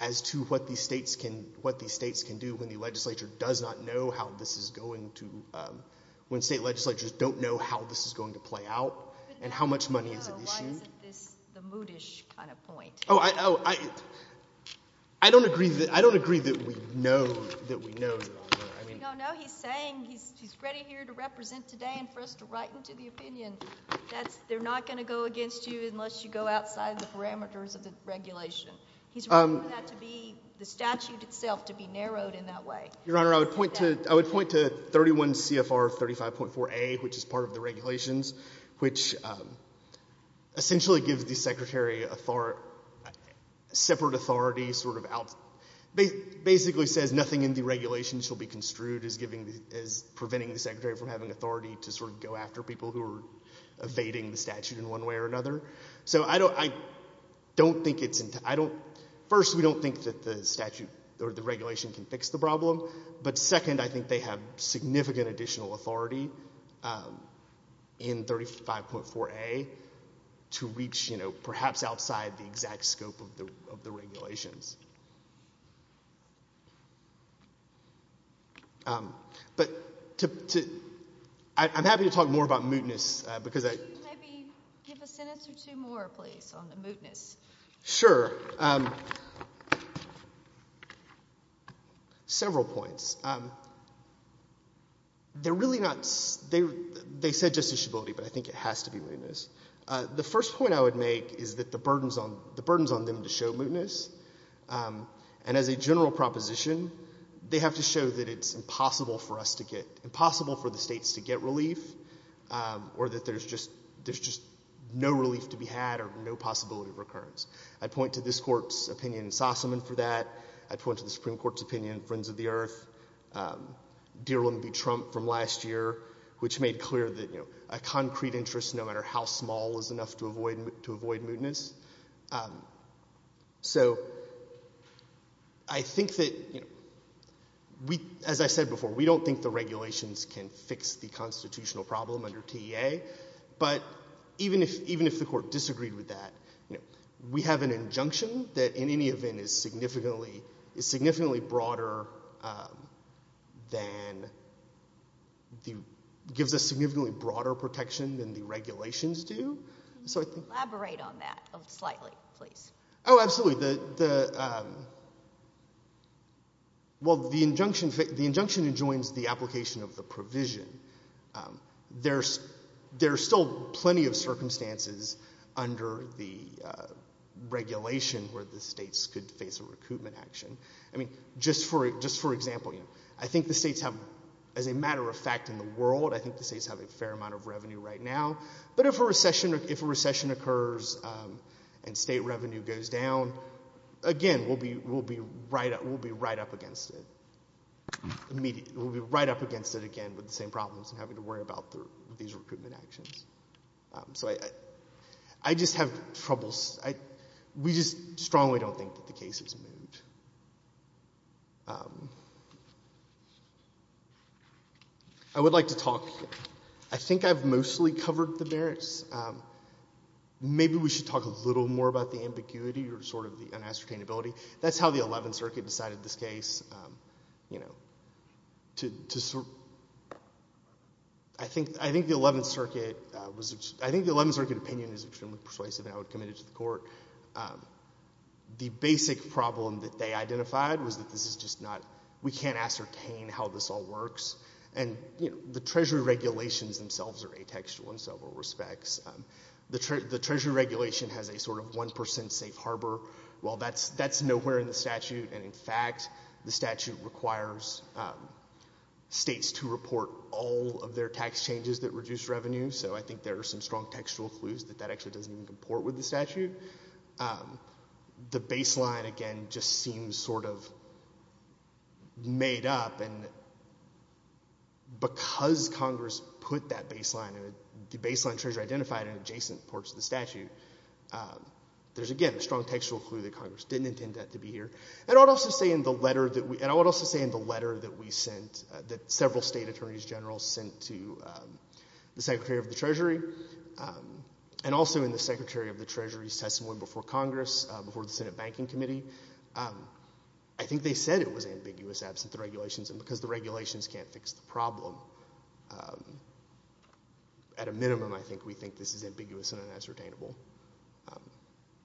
as to what the states can, what the states can do when the legislature does not know how this is going to, um, when state legislatures don't know how this is going to play out and how much money is at issue. Why is it this, the moodish kind of point? Oh, I, oh, I, I don't agree that, I don't agree that we know, that we know, Your Honor. We don't know. He's saying he's, he's ready here to represent today and for us to write into the opinion that they're not going to go against you unless you go outside the parameters of the regulation. He's referring that to be, the statute itself, to be narrowed in that way. Your Honor, I would point to, I would point to 31 CFR 35.4a, which is part of the regulations, which essentially gives the secretary author, separate authority, sort of out, basically says nothing in the regulations shall be construed as giving, as preventing the secretary from having authority to sort of go after people who are evading the statute in one way or another. So I don't, I don't think it's, I don't, first, we don't think that the statute or the regulation can fix the problem, but second, I think they have significant additional authority in 35.4a to reach, you know, perhaps outside the exact scope of the, of the regulations. But to, to, I, I'm happy to talk more about mootness because I... Could you maybe give a sentence or two more, please, on the mootness? Sure. Um, several points. They're really not, they, they said justiciability, but I think it has to be mootness. The first point I would make is that the burdens on, the burdens on them to show mootness, and as a general proposition, they have to show that it's impossible for us to get, impossible for the states to get relief, or that there's just, there's just no relief to be had or no possibility of recurrence. I'd point to this court's opinion in Sossaman for that. I'd point to the Supreme Court's opinion in Friends of the Earth. Dear William B. Trump from last year, which made clear that, you know, a concrete interest, no matter how small, is enough to avoid, to avoid mootness. So I think that, you know, we, as I said before, we don't think the regulations can fix the constitutional problem under TEA, but even if, even if the court disagreed with that, you know, we have an injunction that in any event is significantly, is significantly broader than the, gives us significantly broader protection than the regulations do. Can you elaborate on that slightly, please? Oh, absolutely. The, the, well, the injunction, the injunction enjoins the application of the provision. There's, there's still plenty of circumstances under the regulation where the states could face a recoupment action. I mean, just for, just for example, you know, I think the states have, as a matter of fact in the world, I think the states have a fair amount of revenue right now, but if a recession, if a recession occurs and state revenue goes down, again, we'll be, we'll be right, we'll be right up against it immediately. We'll be right up against it again with the same problems and having to worry about the, these recoupment actions. So I, I just have troubles, I, we just strongly don't think that the case has moved. I would like to talk, I think I've mostly covered the merits. Maybe we should talk a little more about the ambiguity or sort of the un-ascertainability. That's how the 11th Circuit decided this case. You know, to, to sort, I think, I think the 11th Circuit was, I think the 11th Circuit opinion is extremely persuasive and I would commit it to the court. The basic problem that they identified was that this is just not, we can't ascertain how this all works and, you know, the Treasury regulations themselves are atextual in several respects. The Treasury regulation has a sort of 1% safe harbor. Well, that's, that's nowhere in the statute and in fact, the statute requires states to report all of their tax changes that reduce revenue. So I think there are some strong textual clues that that actually doesn't even comport with the statute. The baseline, again, just seems sort of made up and because Congress put that baseline and the baseline Treasury identified in adjacent parts of the statute, there's, again, a strong textual clue that Congress didn't intend that to be here. And I would also say in the letter that we, and I would also say in the letter that we sent, that several state attorneys general sent to the Secretary of the Treasury and also in the Secretary of the Treasury's testimony before Congress, before the Senate Banking Committee, I think they said it was ambiguous absent the regulations and because the regulations can't fix the problem, at a minimum, I think we think this is ambiguous and un-ascertainable.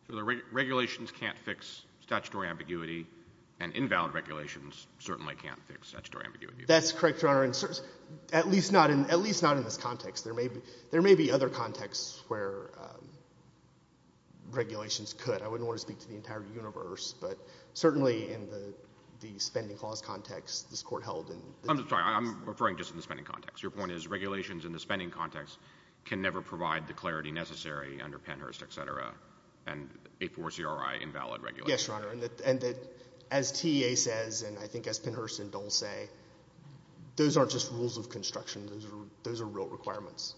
So the regulations can't fix statutory ambiguity and invalid regulations certainly can't fix statutory ambiguity. That's correct, Your Honor. At least not in, at least not in this context. There may be, there may be other contexts where regulations could. I wouldn't want to speak to the entire universe, but certainly in the, the spending clause context, this Court held in. I'm sorry, I'm referring just to the spending context. Your point is regulations in the spending context can never provide the clarity necessary under Pennhurst, et cetera, and a four CRI invalid regulation. Yes, Your Honor, and that, and that as TEA says, and I think as Pennhurst and Dole say, those aren't just rules of construction. Those are, those are real requirements.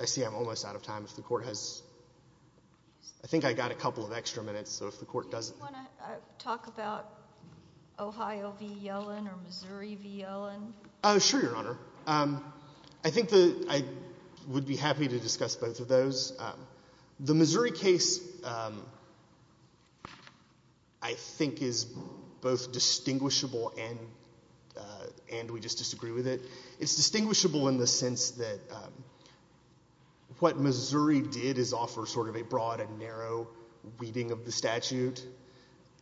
I see I'm almost out of time. If the Court has, I think I got a couple of extra minutes, so if the Court doesn't. Do you want to talk about Ohio v. Yellen or Missouri v. Yellen? Oh, sure, Your Honor. Um, I think the, I would be happy to discuss both of those. The Missouri case, um, I think is both distinguishable and, uh, and we just disagree with it. It's distinguishable in the sense that, um, what Missouri did is offer sort of a broad and narrow reading of the statute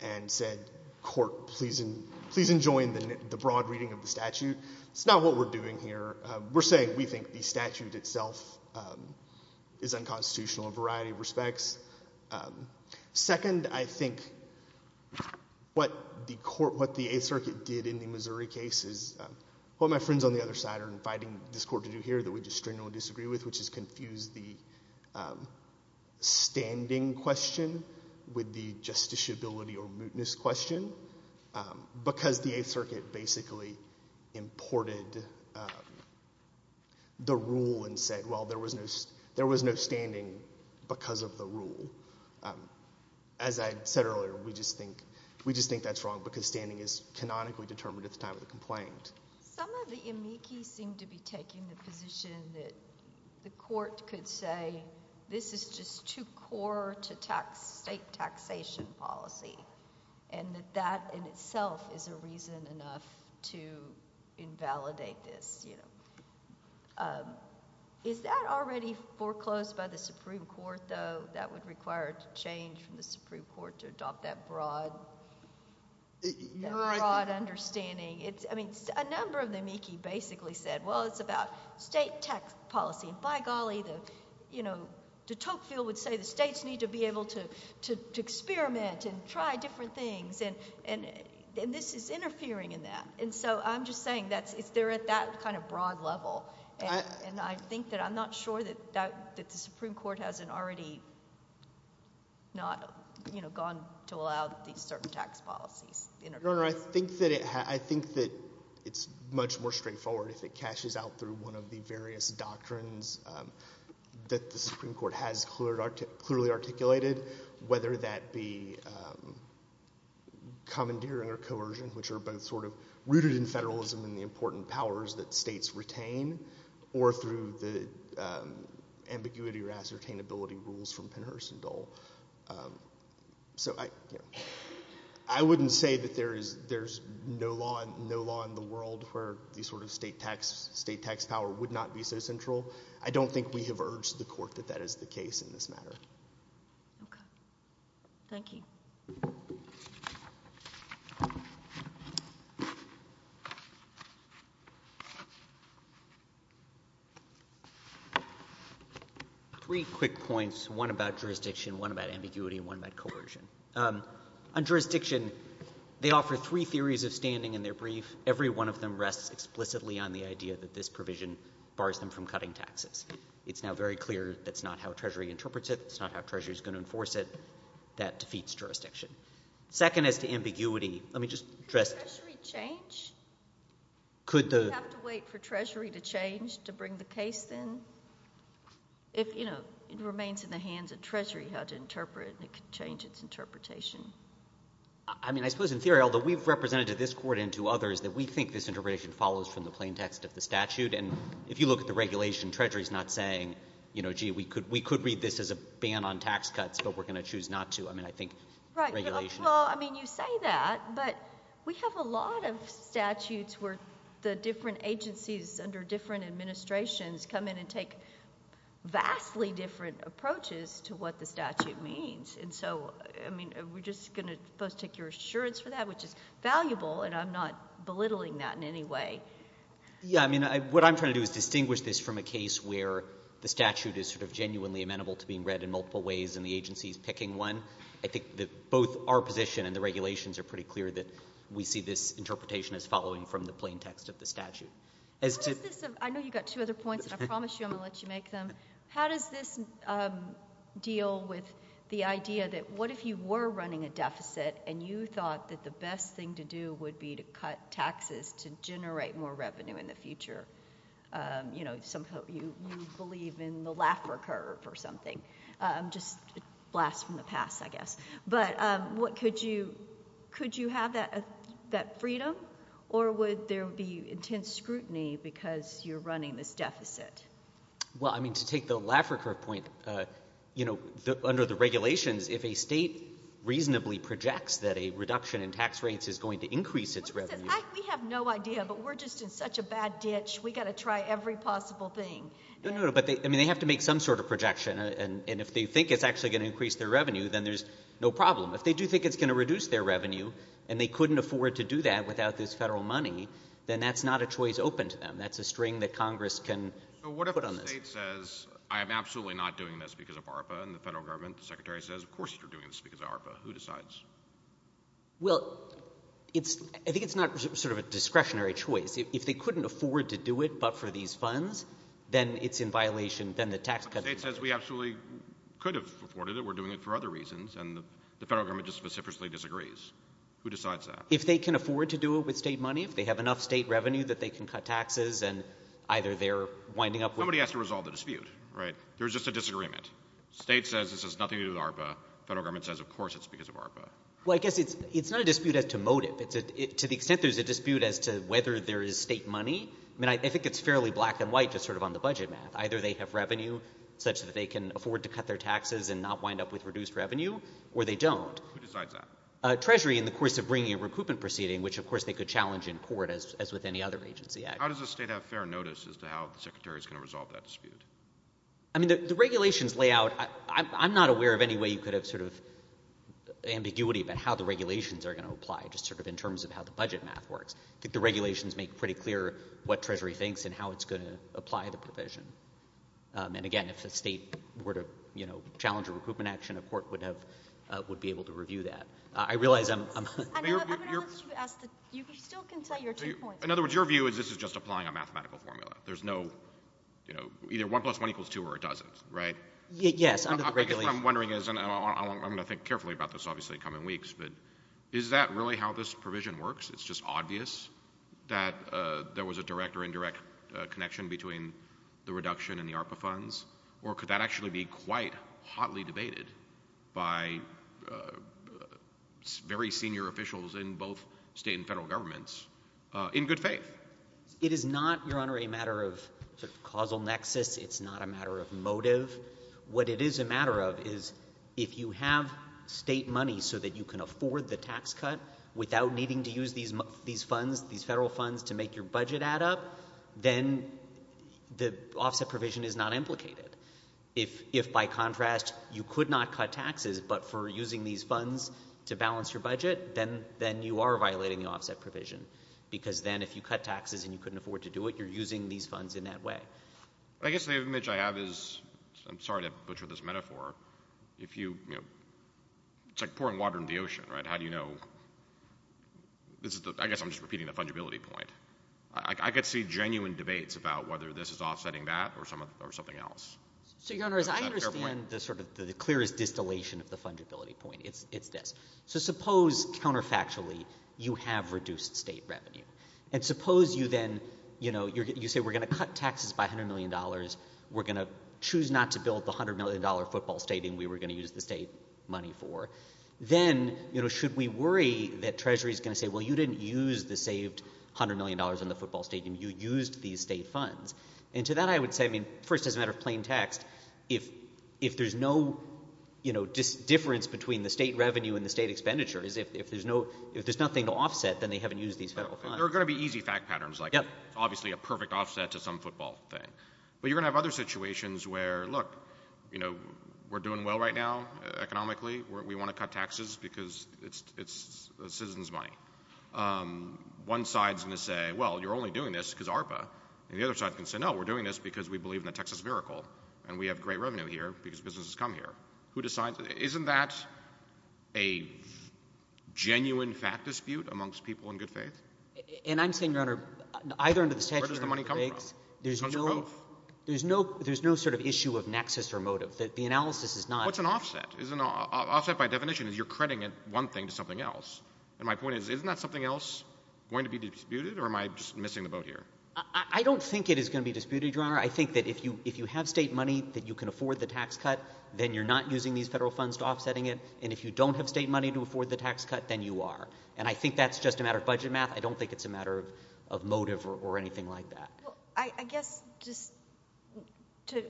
and said, Court, please, please enjoin the broad reading of the statute. It's not what we're doing here. We're saying we think the statute itself, um, is unconstitutional in a variety of respects. Second, I think what the Court, what the Eighth Circuit did in the Missouri case is, um, what my friends on the other side are inviting this Court to do here that we just strongly disagree with, which is confuse the, um, standing question with the justiciability or mootness question, um, because the Eighth Circuit basically imported, um, the rule and said, well, there was no, there was no standing because of the rule. Um, as I said earlier, we just think, we just think that's wrong because standing is canonically determined at the time of the complaint. Some of the amici seem to be taking the position that the Court could say, this is just too poor to tax state taxation policy, and that that in itself is a reason enough to invalidate this, you know. Um, is that already foreclosed by the Supreme Court, though, that would require a change from the Supreme Court to adopt that broad, that broad understanding? It's, I mean, a number of amici basically said, well, it's about state tax policy, and you know, de Tocqueville would say the states need to be able to, to, to experiment and try different things, and, and, and this is interfering in that. And so, I'm just saying that's, it's, they're at that kind of broad level, and, and I think that I'm not sure that, that, that the Supreme Court hasn't already not, you know, gone to allow these certain tax policies. Your Honor, I think that it has, I think that it's much more straightforward if it that the Supreme Court has clearly articulated, whether that be commandeering or coercion, which are both sort of rooted in federalism and the important powers that states retain, or through the ambiguity or ascertainability rules from Pennhurst and Dole. So I, I wouldn't say that there is, there's no law, no law in the world where these sort of state tax, state tax power would not be so central. I don't think we have urged the court that that is the case in this matter. Okay. Thank you. Three quick points, one about jurisdiction, one about ambiguity, and one about coercion. On jurisdiction, they offer three theories of standing in their brief. Every one of them rests explicitly on the idea that this provision bars them from cutting taxes. It's now very clear that's not how Treasury interprets it. It's not how Treasury is going to enforce it. That defeats jurisdiction. Second, as to ambiguity, let me just address- Could Treasury change? Could the- Do we have to wait for Treasury to change to bring the case then? If, you know, it remains in the hands of Treasury how to interpret, it could change its interpretation. I mean, I suppose in theory, although we've represented to this court and to others that we think this interpretation follows from the plain text of the statute. And if you look at the regulation, Treasury is not saying, you know, gee, we could read this as a ban on tax cuts, but we're going to choose not to. I mean, I think regulation- Well, I mean, you say that, but we have a lot of statutes where the different agencies under different administrations come in and take vastly different approaches to what the statute means. And so, I mean, we're just going to both take your assurance for that, which is valuable, and I'm not belittling that in any way. Yeah, I mean, what I'm trying to do is distinguish this from a case where the statute is sort of genuinely amenable to being read in multiple ways and the agency is picking one. I think that both our position and the regulations are pretty clear that we see this interpretation as following from the plain text of the statute. As to- I know you've got two other points, and I promise you I'm going to let you make them. How does this deal with the idea that what if you were running a deficit and you thought that the best thing to do would be to cut taxes to generate more revenue in the future? You know, somehow you believe in the Laffer Curve or something, just a blast from the past, I guess. But what could you- could you have that freedom, or would there be intense scrutiny because you're running this deficit? Well, I mean, to take the Laffer Curve point, you know, under the regulations, if a state reasonably projects that a reduction in tax rates is going to increase its revenue- We have no idea, but we're just in such a bad ditch, we've got to try every possible thing. No, no, no, but they- I mean, they have to make some sort of projection, and if they think it's actually going to increase their revenue, then there's no problem. If they do think it's going to reduce their revenue and they couldn't afford to do that without this federal money, then that's not a choice open to them. That's a string that Congress can put on this. So what if a state says, I am absolutely not doing this because of ARPA, and the federal government, the secretary says, of course you're doing this because of ARPA, who decides? Well, it's- I think it's not sort of a discretionary choice. If they couldn't afford to do it but for these funds, then it's in violation- then the tax cuts- State says we absolutely could have afforded it, we're doing it for other reasons, and the federal government just specifically disagrees. Who decides that? If they can afford to do it with state money, if they have enough state revenue that they can cut taxes, and either they're winding up with- Somebody has to resolve the dispute, right? There's just a disagreement. State says this has nothing to do with ARPA, federal government says of course it's because of ARPA. Well, I guess it's- it's not a dispute as to motive, it's a- to the extent there's a dispute as to whether there is state money, I mean, I think it's fairly black and white just sort of on the budget map. Either they have revenue such that they can afford to cut their taxes and not wind up with reduced revenue, or they don't. Who decides that? Treasury in the course of bringing a recoupment proceeding, which of course they could challenge in court as with any other agency actually. How does the state have fair notice as to how the secretary is going to resolve that dispute? I mean, the regulations lay out- I'm not aware of any way you could have sort of ambiguity about how the regulations are going to apply just sort of in terms of how the budget map works. I think the regulations make pretty clear what Treasury thinks and how it's going to apply the provision. And again, if the state were to, you know, challenge a recoupment action, a court would have- would be able to review that. I realize I'm- I'm going to let you ask the- you still can tell your two points. In other words, your view is this is just applying a mathematical formula. There's no, you know, either one plus one equals two or it doesn't, right? Yes, under the regulations. I guess what I'm wondering is, and I'm going to think carefully about this obviously in the coming weeks, but is that really how this provision works? It's just obvious that there was a direct or indirect connection between the reduction and the ARPA funds? Or could that actually be quite hotly debated by very senior officials in both state and federal governments in good faith? It is not, Your Honor, a matter of causal nexus. It's not a matter of motive. What it is a matter of is if you have state money so that you can afford the tax cut without needing to use these funds, these federal funds to make your budget add up, then the offset provision is not implicated. If, by contrast, you could not cut taxes, but for using these funds to balance your taxes and you couldn't afford to do it, you're using these funds in that way. I guess the image I have is, I'm sorry to butcher this metaphor, if you, you know, it's like pouring water into the ocean, right? How do you know? I guess I'm just repeating the fungibility point. I could see genuine debates about whether this is offsetting that or something else. So, Your Honor, as I understand the sort of the clearest distillation of the fungibility point, it's this. So suppose counterfactually you have reduced state revenue. And suppose you then, you know, you say we're going to cut taxes by $100 million. We're going to choose not to build the $100 million football stadium we were going to use the state money for. Then, you know, should we worry that Treasury is going to say, well, you didn't use the saved $100 million in the football stadium. You used these state funds. And to that, I would say, I mean, first, as a matter of plain text, if there's no, you know, difference between the state revenue and the state expenditures, if there's no, if there's nothing to offset, then they haven't used these federal funds. There are going to be easy fact patterns, like obviously a perfect offset to some football thing. But you're going to have other situations where, look, you know, we're doing well right now economically. We want to cut taxes because it's a citizen's money. One side's going to say, well, you're only doing this because ARPA. And the other side can say, no, we're doing this because we believe in the Texas miracle and we have great revenue here because businesses come here. Who decides? Isn't that a genuine fact dispute amongst people in good faith? And I'm saying, Your Honor, either under the statute or under the regs, there's no sort of issue of nexus or motive. The analysis is not. What's an offset? Is an offset by definition is you're crediting one thing to something else. And my point is, isn't that something else going to be disputed? Or am I just missing the boat here? I don't think it is going to be disputed, Your Honor. I think that if you have state money that you can afford the tax cut, then you're not using these federal funds to offsetting it. And if you don't have state money to afford the tax cut, then you are. And I think that's just a matter of budget math. I don't think it's a matter of motive or anything like that. I guess just to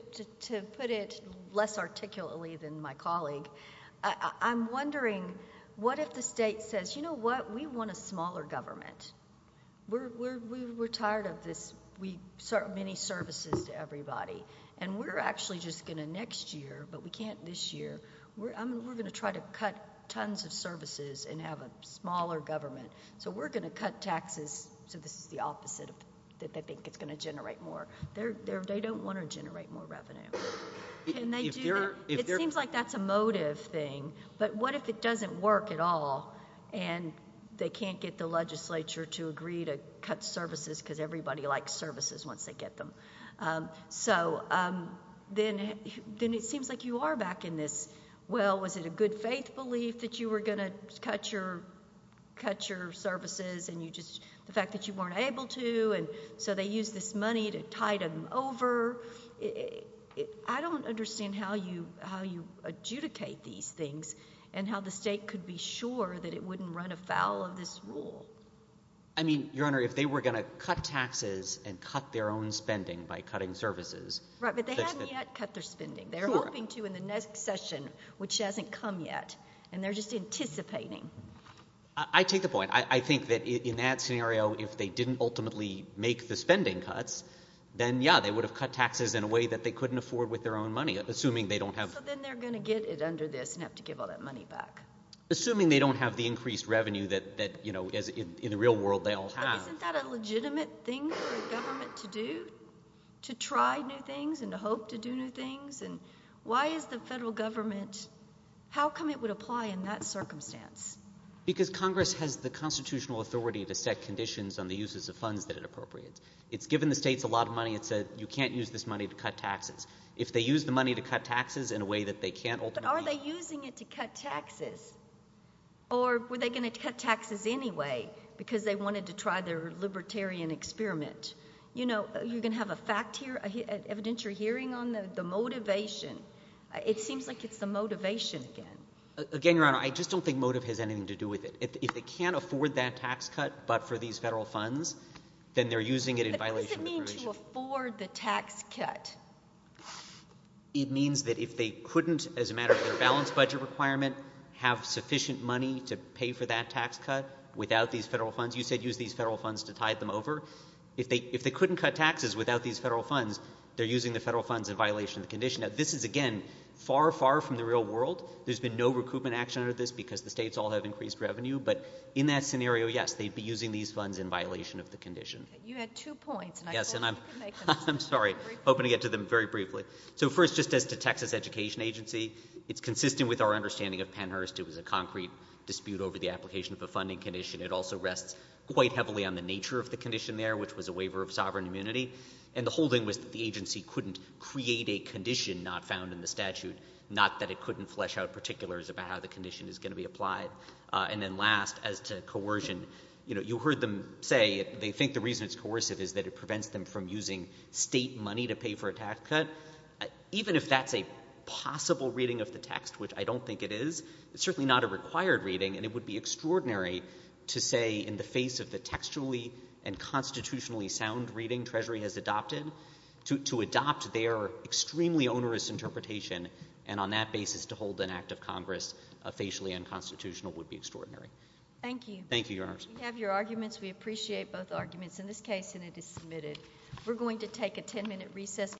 put it less articulately than my colleague, I'm wondering, what if the state says, You know what? We want a smaller government. We're tired of this. We serve many services to everybody. And we're actually just going to next year, but we can't this year. We're going to try to cut tons of services and have a smaller government. So we're going to cut taxes. So this is the opposite, that they think it's going to generate more. They don't want to generate more revenue. It seems like that's a motive thing. But what if it doesn't work at all and they can't get the legislature to agree to cut services because everybody likes services once they get them? So then it seems like you are back in this, well, was it a good faith belief that you were going to cut your services and the fact that you weren't able to, and so they used this money to tide them over. I don't understand how you adjudicate these things and how the state could be sure that it wouldn't run afoul of this rule. I mean, Your Honor, if they were going to cut taxes and cut their own spending by cutting services. Right, but they haven't yet cut their spending. They're hoping to in the next session, which hasn't come yet. And they're just anticipating. I take the point. I think that in that scenario, if they didn't ultimately make the spending cuts, then yeah, they would have cut taxes in a way that they couldn't afford with their own money. Assuming they don't have. So then they're going to get it under this and have to give all that money back. Assuming they don't have the increased revenue that, you know, in the real world they all have. Isn't that a legitimate thing for a government to do? To try new things and to hope to do new things? And why is the federal government? How come it would apply in that circumstance? Because Congress has the constitutional authority to set conditions on the uses of funds that it appropriates. It's given the states a lot of money. It said you can't use this money to cut taxes if they use the money to cut taxes in a way that they can't. But are they using it to cut taxes or were they going to cut taxes anyway because they wanted to try their libertarian experiment? You know, you're going to have a fact here, evident you're hearing on the motivation. It seems like it's the motivation again. Again, Your Honor, I just don't think motive has anything to do with it. If they can't afford that tax cut, but for these federal funds, then they're using it in violation. What does it mean to afford the tax cut? It means that if they couldn't, as a matter of their balanced budget requirement, have sufficient money to pay for that tax cut without these federal funds. You said use these federal funds to tide them over. If they couldn't cut taxes without these federal funds, they're using the federal funds in violation of the condition. Now, this is again far, far from the real world. There's been no recoupment action under this because the states all have increased revenue. But in that scenario, yes, they'd be using these funds in violation of the condition. You had two points. Yes, and I'm sorry. Hoping to get to them very briefly. So first, just as to Texas Education Agency, it's consistent with our understanding of Pennhurst. It was a concrete dispute over the application of a funding condition. It also rests quite heavily on the nature of the condition there, which was a waiver of sovereign immunity. And the whole thing was that the agency couldn't create a condition not found in the statute, not that it couldn't flesh out particulars about how the condition is going to be applied. And then last, as to coercion, you heard them say they think the reason it's coercive is that it prevents them from using state money to pay for a tax cut. Even if that's a possible reading of the text, which I don't think it is, it's certainly not a required reading. And it would be extraordinary to say in the face of the textually and constitutionally sound reading Treasury has adopted, to adopt their extremely onerous interpretation and on that basis to hold an act of Congress facially unconstitutional would be extraordinary. Thank you. Thank you, Your Honor. We have your arguments. We appreciate both arguments in this case, and it is submitted. We're going to take a 10-minute recess.